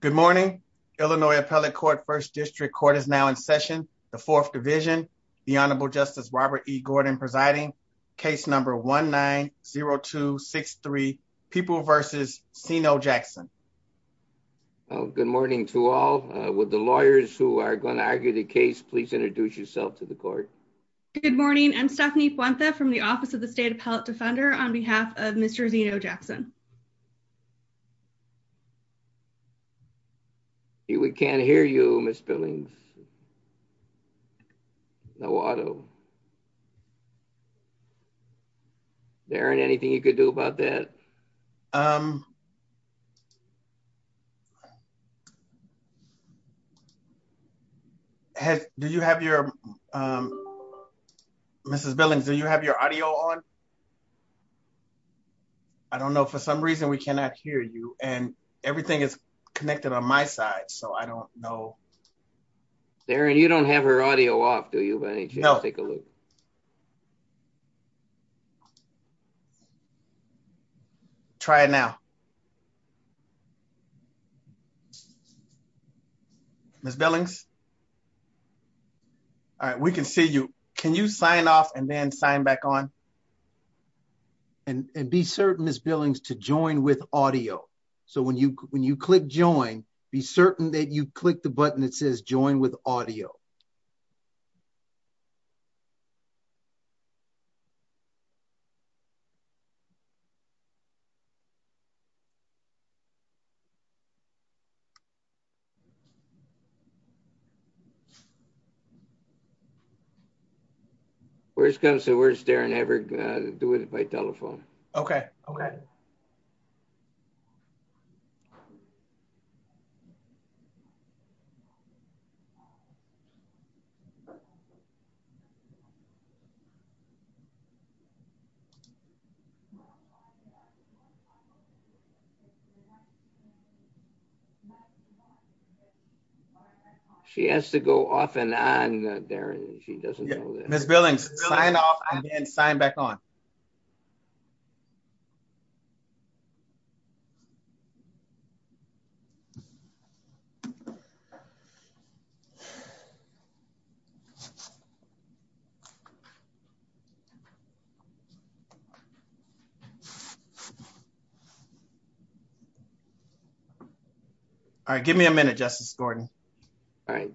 Good morning. Illinois Appellate Court First District Court is now in session. The Fourth Division, the Honorable Justice Robert E. Gordon presiding. Case number 1-9-0263, People versus Zeno Jackson. Good morning to all. Would the lawyers who are going to argue the case please introduce yourself to the court? Good morning. I'm Stephanie Fuente from the Office of the State Appellate Defender on behalf of Mr. Zeno Jackson. I see we can't hear you, Ms. Billings. No audio. Darren, anything you could do about that? Do you have your, Mrs. Billings, do you have your audio on? I don't know. For some reason, we cannot hear you. And everything is connected on my side. So I don't know. Darren, you don't have her audio off, do you? But I need you to take a look. Try it now. Ms. Billings? All right, we can see you. Can you sign off and then sign back on? And be certain, Ms. Billings, to join with audio. So when you click Join, be certain that you click the button that says Join with Audio. No audio. Where it comes to words, Darren, have her do it by telephone. OK. OK. No audio. She has to go off and on, Darren. She doesn't know that. Ms. Billings, sign off and then sign back on. All right. All right, give me a minute, Justice Gordon. All right. All right.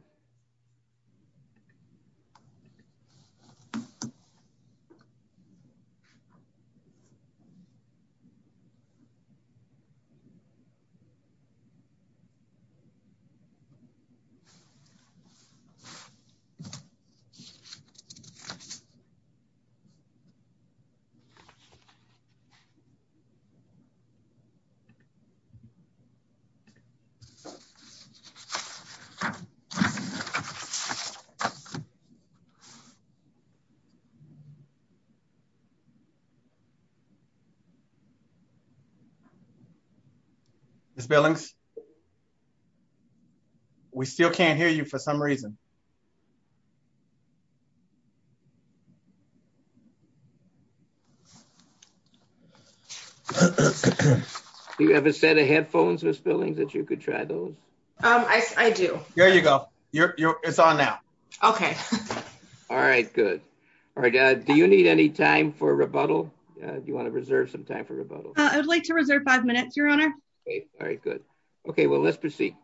Ms. Billings? Ms. Billings? We still can't hear you for some reason. Do you have a set of headphones, Ms. Billings, that you could try those? I do. There you go. It's on now. OK. All right, good. All right, do you need any time for rebuttal? Do you want to reserve some time for rebuttal? I would like to reserve five minutes, Your Honor. All right, good. OK, well, let's proceed.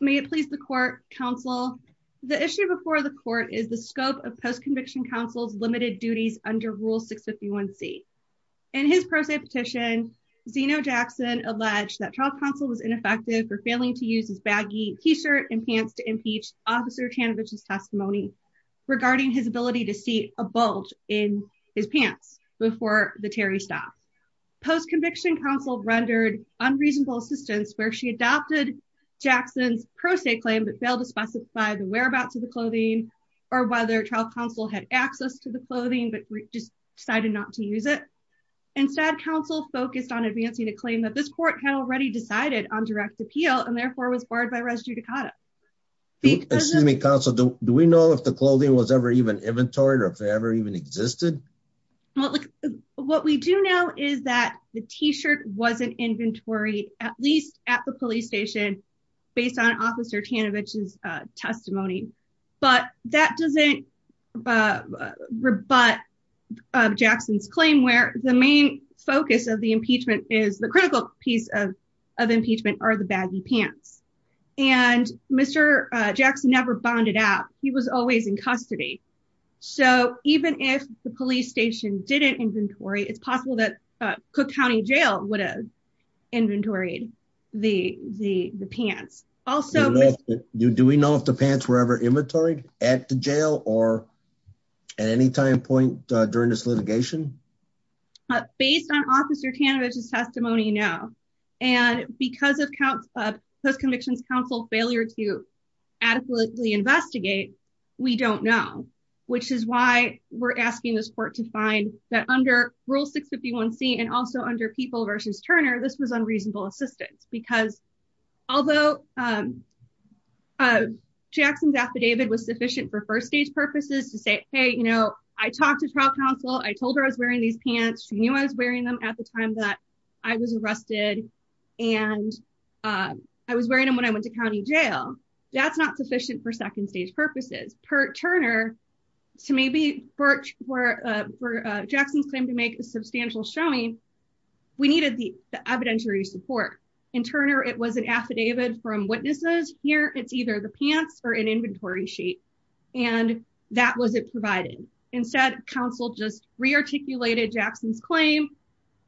May it please the court, counsel, the issue before the court is the scope of post-conviction counsel's limited duties under Rule 651C. In his pro se petition, Zeno Jackson alleged that trial counsel was ineffective for failing to use his baggy t-shirt and pants to impeach Officer Chanovich's testimony regarding his ability to see a bulge in his pants before the Terry stopped. Post-conviction counsel rendered unreasonable assistance where she adopted Jackson's pro se claim but failed to specify the whereabouts of the clothing or whether trial counsel had access to the clothing but just decided not to use it. Instead, counsel focused on advancing a claim that this court had already decided on direct appeal and therefore was barred by res judicata. Excuse me, counsel, do we know if the clothing was ever even inventoried or if it ever even existed? Well, what we do know is that the t-shirt wasn't inventory at least at the police station based on Officer Chanovich's testimony but that doesn't rebut Jackson's claim where the main focus of the impeachment is the critical piece of impeachment are the baggy pants. So even if the police station didn't inventory it's possible that Cook County Jail would have inventoried the pants. Also- Do we know if the pants were ever inventoried at the jail or at any time point during this litigation? Based on Officer Chanovich's testimony, no. And because of post-conviction counsel failure to adequately investigate, we don't know which is why we're asking this court to find that under Rule 651C and also under People v. Turner this was unreasonable assistance because although Jackson's affidavit was sufficient for first stage purposes to say, hey, I talked to trial counsel, I told her I was wearing these pants, she knew I was wearing them at the time that I was arrested and I was wearing them when I went to County Jail. That's not sufficient for second stage purposes. Per Turner, so maybe for Jackson's claim to make a substantial showing we needed the evidentiary support. In Turner it was an affidavit from witnesses, here it's either the pants or an inventory sheet and that wasn't provided. Instead counsel just rearticulated Jackson's claim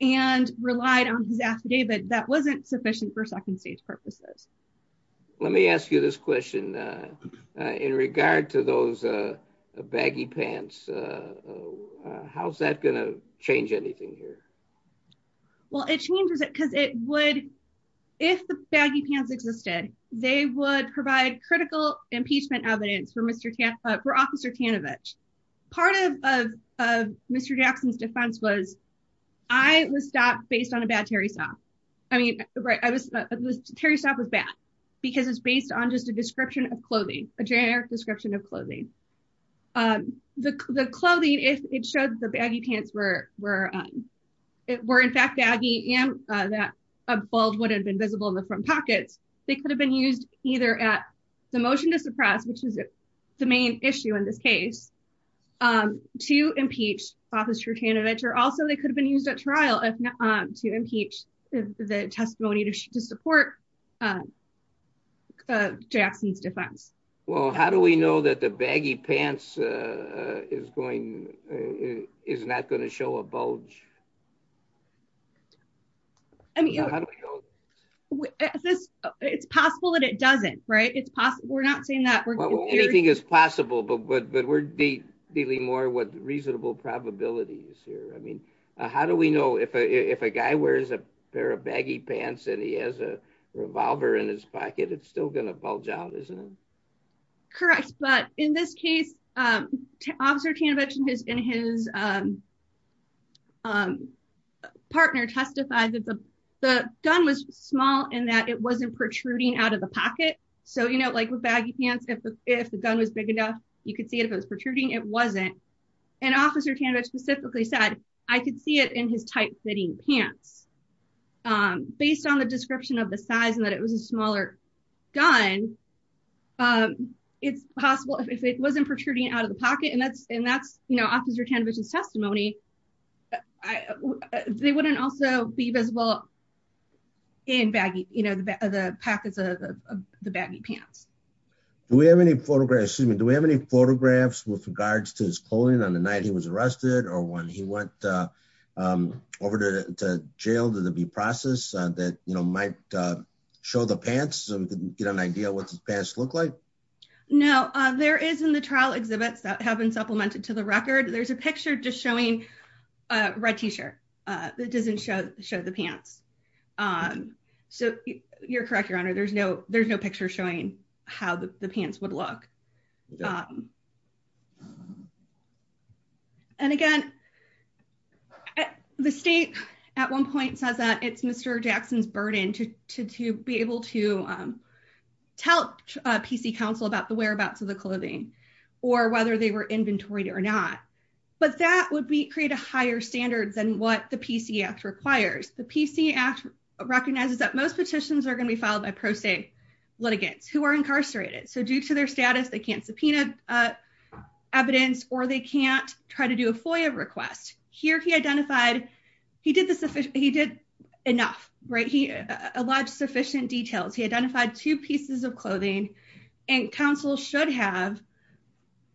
and relied on his affidavit that wasn't sufficient for second stage purposes. Let me ask you this question in regard to those baggy pants, how's that gonna change anything here? Well, it changes it because it would, if the baggy pants existed, they would provide critical impeachment evidence for Officer Chanovich. Part of Mr. Jackson's defense was, I was stopped based on a bad Terry stop. I mean, Terry stop was bad because it's based on just a description of clothing, a generic description of clothing. The clothing, it showed the baggy pants were in fact baggy and that a bulge would have been visible in the front pockets. They could have been used either at the motion to suppress, which is the main issue in this case, to impeach Officer Chanovich or also they could have been used at trial to impeach the testimony to support Jackson's defense. Well, how do we know that the baggy pants is not gonna show a bulge? It's possible that it doesn't, right? We're not saying that- Well, anything is possible, but we're dealing more with reasonable probabilities here. I mean, how do we know if a guy wears a pair of baggy pants and he has a revolver in his pocket, it's still gonna bulge out, isn't it? Correct, but in this case, Officer Chanovich and his partner testified that the gun was small and that it wasn't protruding out of the pocket. Like with baggy pants, if the gun was big enough, you could see it if it was protruding, it wasn't. And Officer Chanovich specifically said, I could see it in his tight-fitting pants. Based on the description of the size and that it was a smaller gun, it's possible if it wasn't protruding out of the pocket, and that's Officer Chanovich's testimony, they wouldn't also be visible in baggy, the pockets of the baggy pants. Do we have any photographs, excuse me, do we have any photographs with regards to his clothing on the night he was arrested or when he went over to jail? Did it be processed that might show the pants? So we can get an idea what his pants look like? No, there is in the trial exhibits that have been supplemented to the record, there's a picture just showing a red T-shirt that doesn't show the pants. So you're correct, Your Honor, there's no picture showing how the pants would look. And again, the state at one point says that it's Mr. Jackson's burden to be able to tell PC Council about the whereabouts of the clothing or whether they were inventoried or not. But that would create a higher standard than what the PC Act requires. The PC Act recognizes that most petitions are gonna be filed by pro se litigants who are incarcerated. So due to their status, they can't subpoena evidence or they can't try to do a FOIA request. Here he identified, he did enough, right? He allowed sufficient details. He identified two pieces of clothing and council should have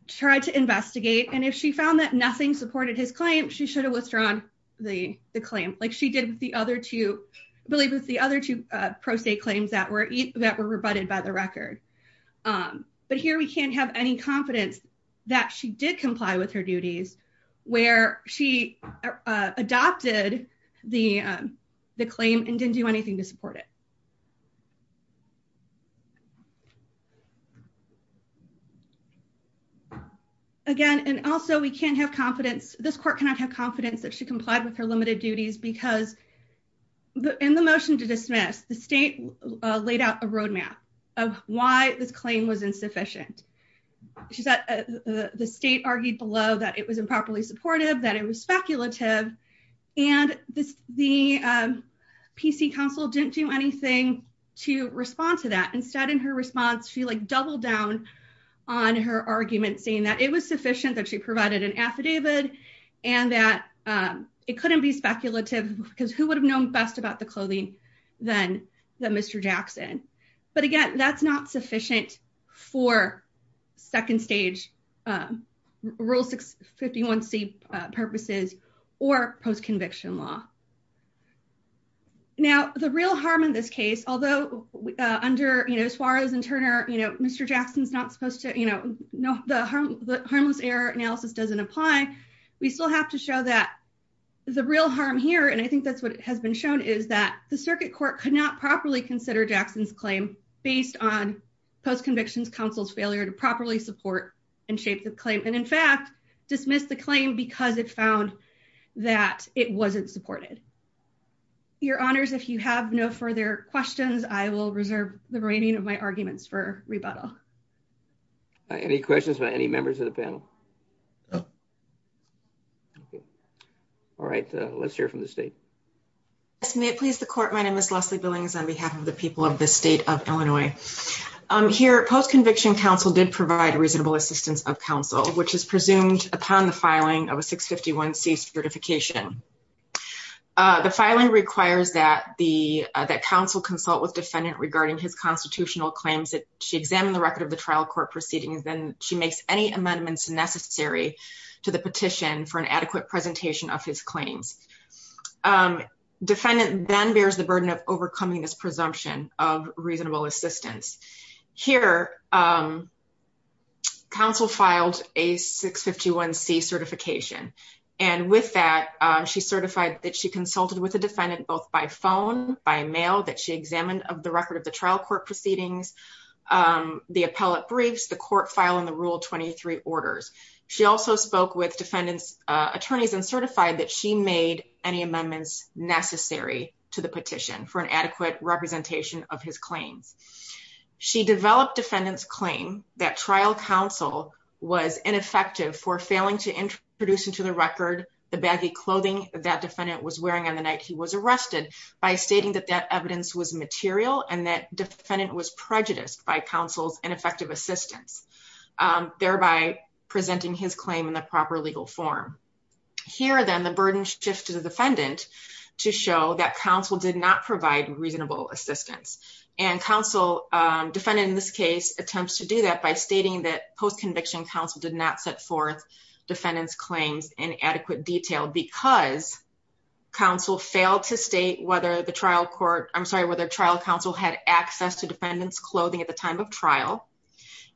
tried to investigate. And if she found that nothing supported his claim, she should have withdrawn the claim. Like she did with the other two, I believe it was the other two pro se claims that were rebutted by the record. But here we can't have any confidence that she did comply with her duties where she adopted the claim and didn't do anything to support it. Again, and also we can't have confidence, this court cannot have confidence that she complied with her limited duties because in the motion to dismiss, the state laid out a roadmap of why this claim was insufficient. She said the state argued below that it was improperly supportive, that it was speculative and the PC council didn't do anything to respond to that. Instead in her response, she like doubled down on her argument saying that it was sufficient, that she provided an affidavit and that it couldn't be speculative because who would have known best about the clothing than the Mr. Jackson. But again, that's not sufficient for second stage rule 651C purposes or post-conviction law. Now the real harm in this case, although under Suarez and Turner, Mr. Jackson's not supposed to, the harmless error analysis doesn't apply, we still have to show that the real harm here and I think that's what has been shown is that the circuit court could not properly consider Jackson's claim based on post-conviction council's failure to properly support and shape the claim. And in fact, dismissed the claim because it found that it wasn't supported. Your honors, if you have no further questions, I will reserve the remaining of my arguments for rebuttal. Any questions by any members of the panel? All right, let's hear from the state. Yes, may it please the court, my name is Leslie Billings on behalf of the people of the state of Illinois. Here, post-conviction counsel did provide reasonable assistance of counsel, which is presumed upon the filing of a 651C certification. The filing requires that counsel consult with defendant regarding his constitutional claims that she examined the record of the trial court proceedings then she makes any amendments necessary to the petition for an adequate presentation of his claims. Defendant then bears the burden of overcoming this presumption of reasonable assistance. Here, counsel filed a 651C certification and with that, she certified that she consulted with the defendant both by phone, by mail, that she examined the record of the trial court proceedings. The appellate briefs, the court file and the rule 23 orders. She also spoke with defendant's attorneys and certified that she made any amendments necessary to the petition for an adequate representation of his claims. She developed defendant's claim that trial counsel was ineffective for failing to introduce into the record the baggy clothing that defendant was wearing on the night he was arrested by stating that that evidence was material and that defendant was prejudiced by counsel's ineffective assistance, thereby presenting his claim in the proper legal form. Here then the burden shifts to the defendant to show that counsel did not provide reasonable assistance. And counsel defendant in this case attempts to do that by stating that post-conviction counsel did not set forth defendant's claims in adequate detail because counsel failed to state whether the trial court, I'm sorry, whether trial counsel had access to defendant's clothing at the time of trial,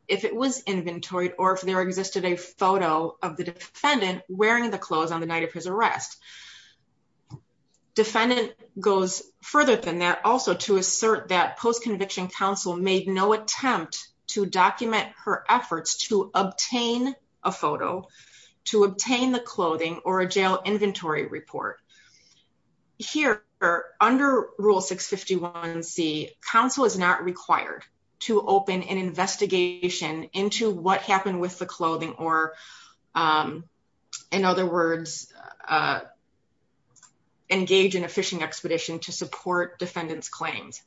if it was inventoried or if there existed a photo of the defendant wearing the clothes on the night of his arrest. Defendant goes further than that also to assert that post-conviction counsel made no attempt to document her efforts to obtain a photo, to obtain the clothing or a jail inventory report. Here under Rule 651C, counsel is not required to open an investigation into what happened with the clothing or in other words, engage in a phishing expedition to support defendant's claims.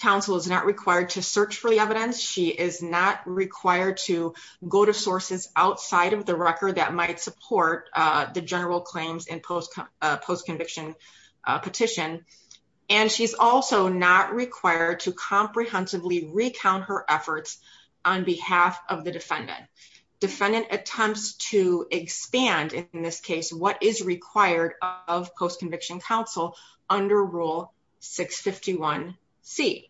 Counsel is not required to search for the evidence. She is not required to go to sources outside of the record that might support the general claims in post-conviction petition. And she's also not required to comprehensively recount her efforts on behalf of the defendant. Defendant attempts to expand in this case, what is required of post-conviction counsel under Rule 651C.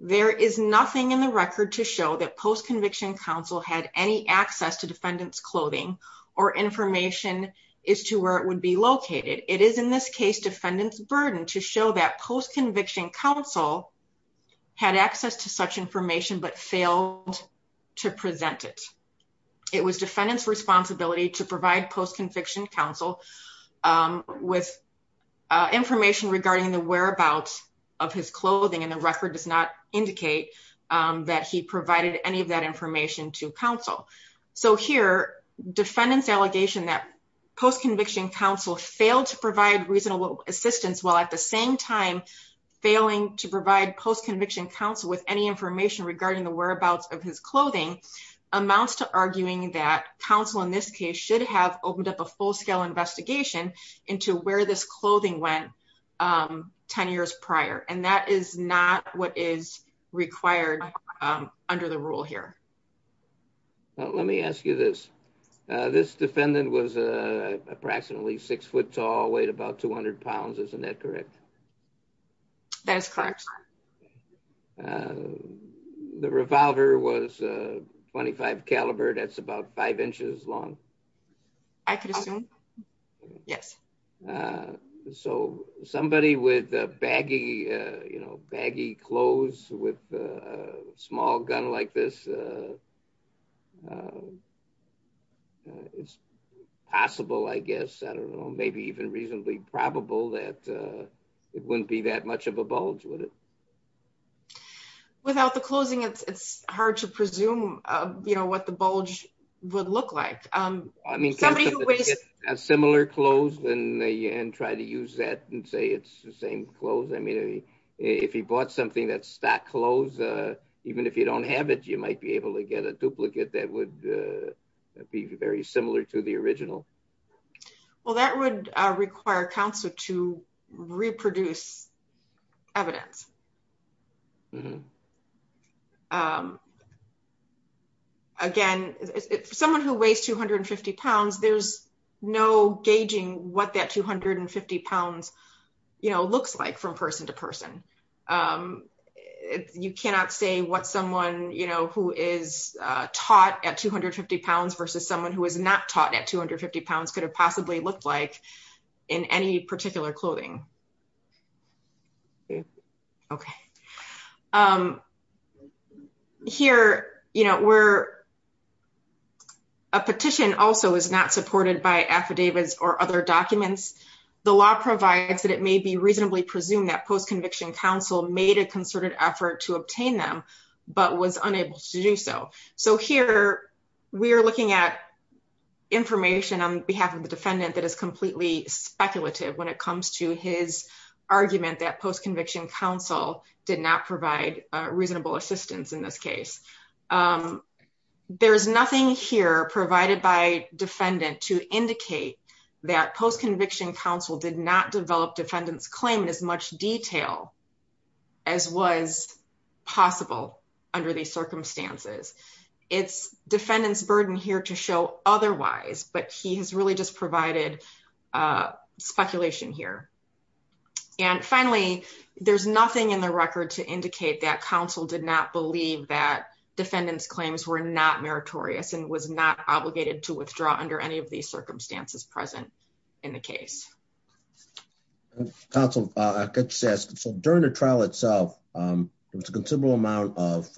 There is nothing in the record to show that post-conviction counsel had any access to defendant's clothing or information as to where it would be located. It is in this case defendant's burden to show that post-conviction counsel had access to such information, but failed to present it. It was defendant's responsibility to provide post-conviction counsel with information regarding the whereabouts of his clothing. And the record does not indicate that he provided any of that information to counsel. So here defendant's allegation that post-conviction counsel failed to provide reasonable assistance while at the same time, failing to provide post-conviction counsel with any information regarding the whereabouts of his clothing amounts to arguing that counsel in this case should have opened up a full-scale investigation into where this clothing went 10 years prior. And that is not what is required under the rule here. Let me ask you this. This defendant was approximately six foot tall, weighed about 200 pounds. Isn't that correct? That is correct. The revolver was a 25 caliber. That's about five inches long. I could assume. Yes. So somebody with baggy clothes with a small gun like this it's possible, I guess, I don't know, maybe even reasonably probable that it wouldn't be that much of a bulge, would it? Without the closing, it's hard to presume what the bulge would look like. I mean, somebody who wears similar clothes and try to use that and say it's the same clothes. I mean, if he bought something that's stock clothes, even if you don't have it, you might be able to get a duplicate that would be very similar to the original. Well, that would require counsel to reproduce evidence. Again, someone who weighs 250 pounds, there's no gauging what that 250 pounds looks like from person to person. You cannot say what someone who is taught at 250 pounds versus someone who is not taught at 250 pounds could have possibly looked like in any particular clothing. Okay. Here, a petition also is not supported by affidavits or other documents. The law provides that it may be reasonably presumed that post-conviction counsel made a concerted effort to obtain them, but was unable to do so. So here, we are looking at information on behalf of the defendant that is completely speculative when it comes to his argument that post-conviction counsel did not provide a reasonable assistance in this case. There's nothing here provided by defendant to indicate that post-conviction counsel did not develop defendant's claim in as much detail as was possible under these circumstances. It's defendant's burden here to show otherwise, but he has really just provided speculation here. And finally, there's nothing in the record to indicate that counsel did not believe that defendant's claims were not meritorious and was not obligated to withdraw under any of these circumstances present in the case. Counsel, I guess, so during the trial itself, there was a considerable amount of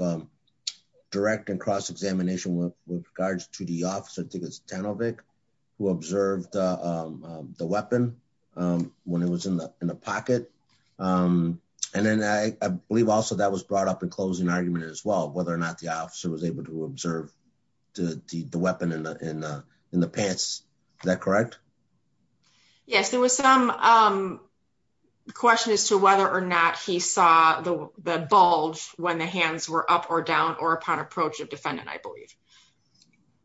direct and cross-examination with regards to the officer, I think it's Tanovic, who observed the weapon when it was in the pocket. And then I believe also that was brought up in closing argument as well, whether or not the officer was able to observe the weapon in the pants, is that correct? Yes, there was some question as to whether or not he saw the bulge when the hands were up or down or upon approach of defendant, I believe.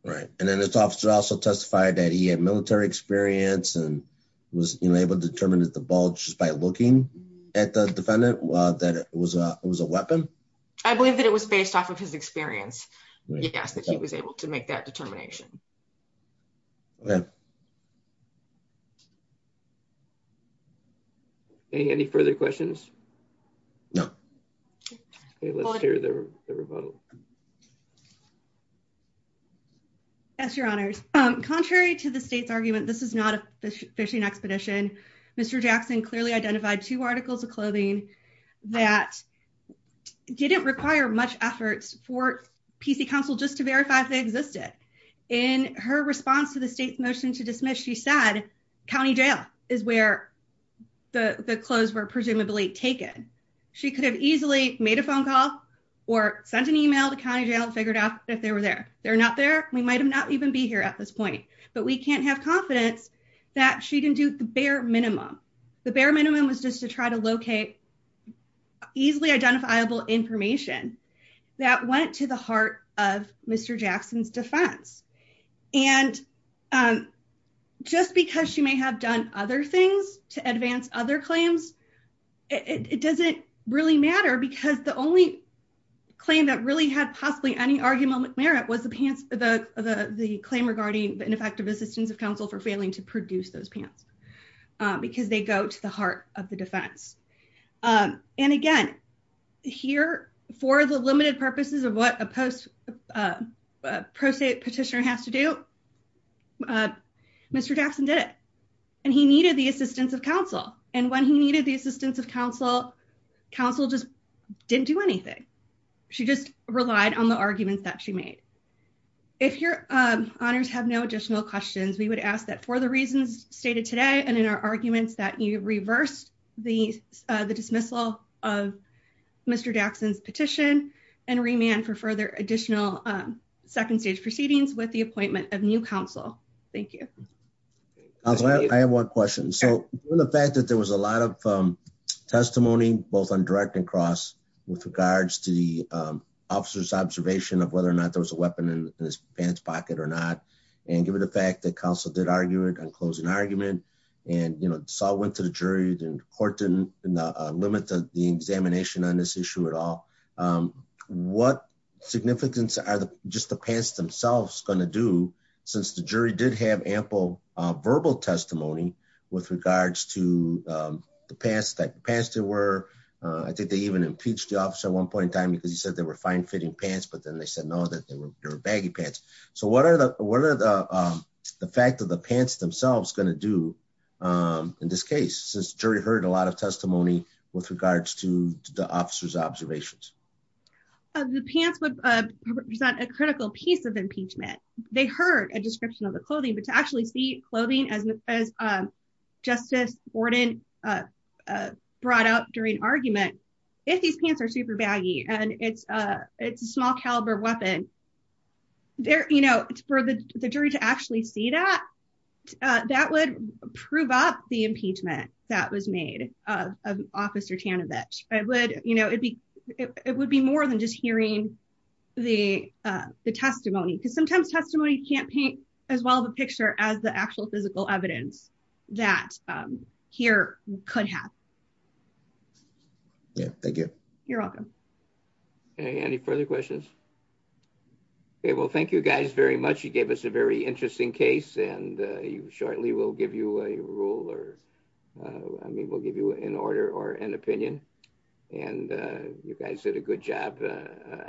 Right, and then this officer also testified that he had military experience and was able to determine that the bulge just by looking at the defendant, that it was a weapon? I believe that it was based off of his experience. Yes, that he was able to make that determination. Any further questions? No. Yes, your honors. Contrary to the state's argument, this is not a fishing expedition. Mr. Jackson clearly identified two articles of clothing that didn't require much efforts for PC council just to verify if they existed. In her response to the state's motion to dismiss, she said county jail is where the clothes were presumably taken. She could have easily made a phone call or sent an email to county jail and figured out if they were there. They're not there. We might not even be here at this point, but we can't have confidence that she can do the bare minimum. The bare minimum was just to try to locate easily identifiable information that went to the heart of Mr. Jackson's defense. And just because she may have done other things to advance other claims, it doesn't really matter because the only claim that really had possibly any argument with merit was the claim regarding the ineffective assistance of council for failing to produce those pants. Because they go to the heart of the defense. And again, here for the limited purposes of what a post pro se petitioner has to do, Mr. Jackson did it. And he needed the assistance of council. And when he needed the assistance of council, council just didn't do anything. She just relied on the arguments that she made. If your honors have no additional questions, we would ask that for the reasons stated today and in our arguments that you reversed the dismissal of Mr. Jackson's petition and remand for further additional second stage proceedings with the appointment of new council. Thank you. I have one question. So the fact that there was a lot of testimony, both on direct and cross with regards to the officer's observation of whether or not there was a weapon in his pants pocket or not, and given the fact that council did argue it on closing argument and saw it went to the jury, then the court didn't limit the examination on this issue at all. What significance are just the pants themselves gonna do since the jury did have ample verbal testimony with regards to the pants that the pants there were. I think they even impeached the officer at one point in time because he said they were fine fitting pants, but then they said, no, that they were baggy pants. So what are the fact of the pants themselves gonna do in this case, since jury heard a lot of testimony with regards to the officer's observations? The pants would represent a critical piece of impeachment. They heard a description of the clothing, but to actually see clothing as Justice Borden brought up during argument, if these pants are super baggy and it's a small caliber weapon, for the jury to actually see that, that would prove up the impeachment that was made of officer Tanovich. It would be more than just hearing the testimony because sometimes testimony can't paint as well the picture as the actual physical evidence that here could have. Yeah, thank you. You're welcome. Any further questions? Okay, well, thank you guys very much. You gave us a very interesting case and you shortly we'll give you a rule or I mean, we'll give you an order or an opinion and you guys did a good job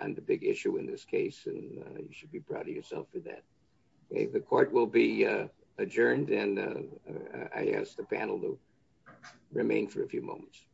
on the big issue in this case and you should be proud of yourself for that. Okay, the court will be adjourned and I ask the panel to remain for a few moments.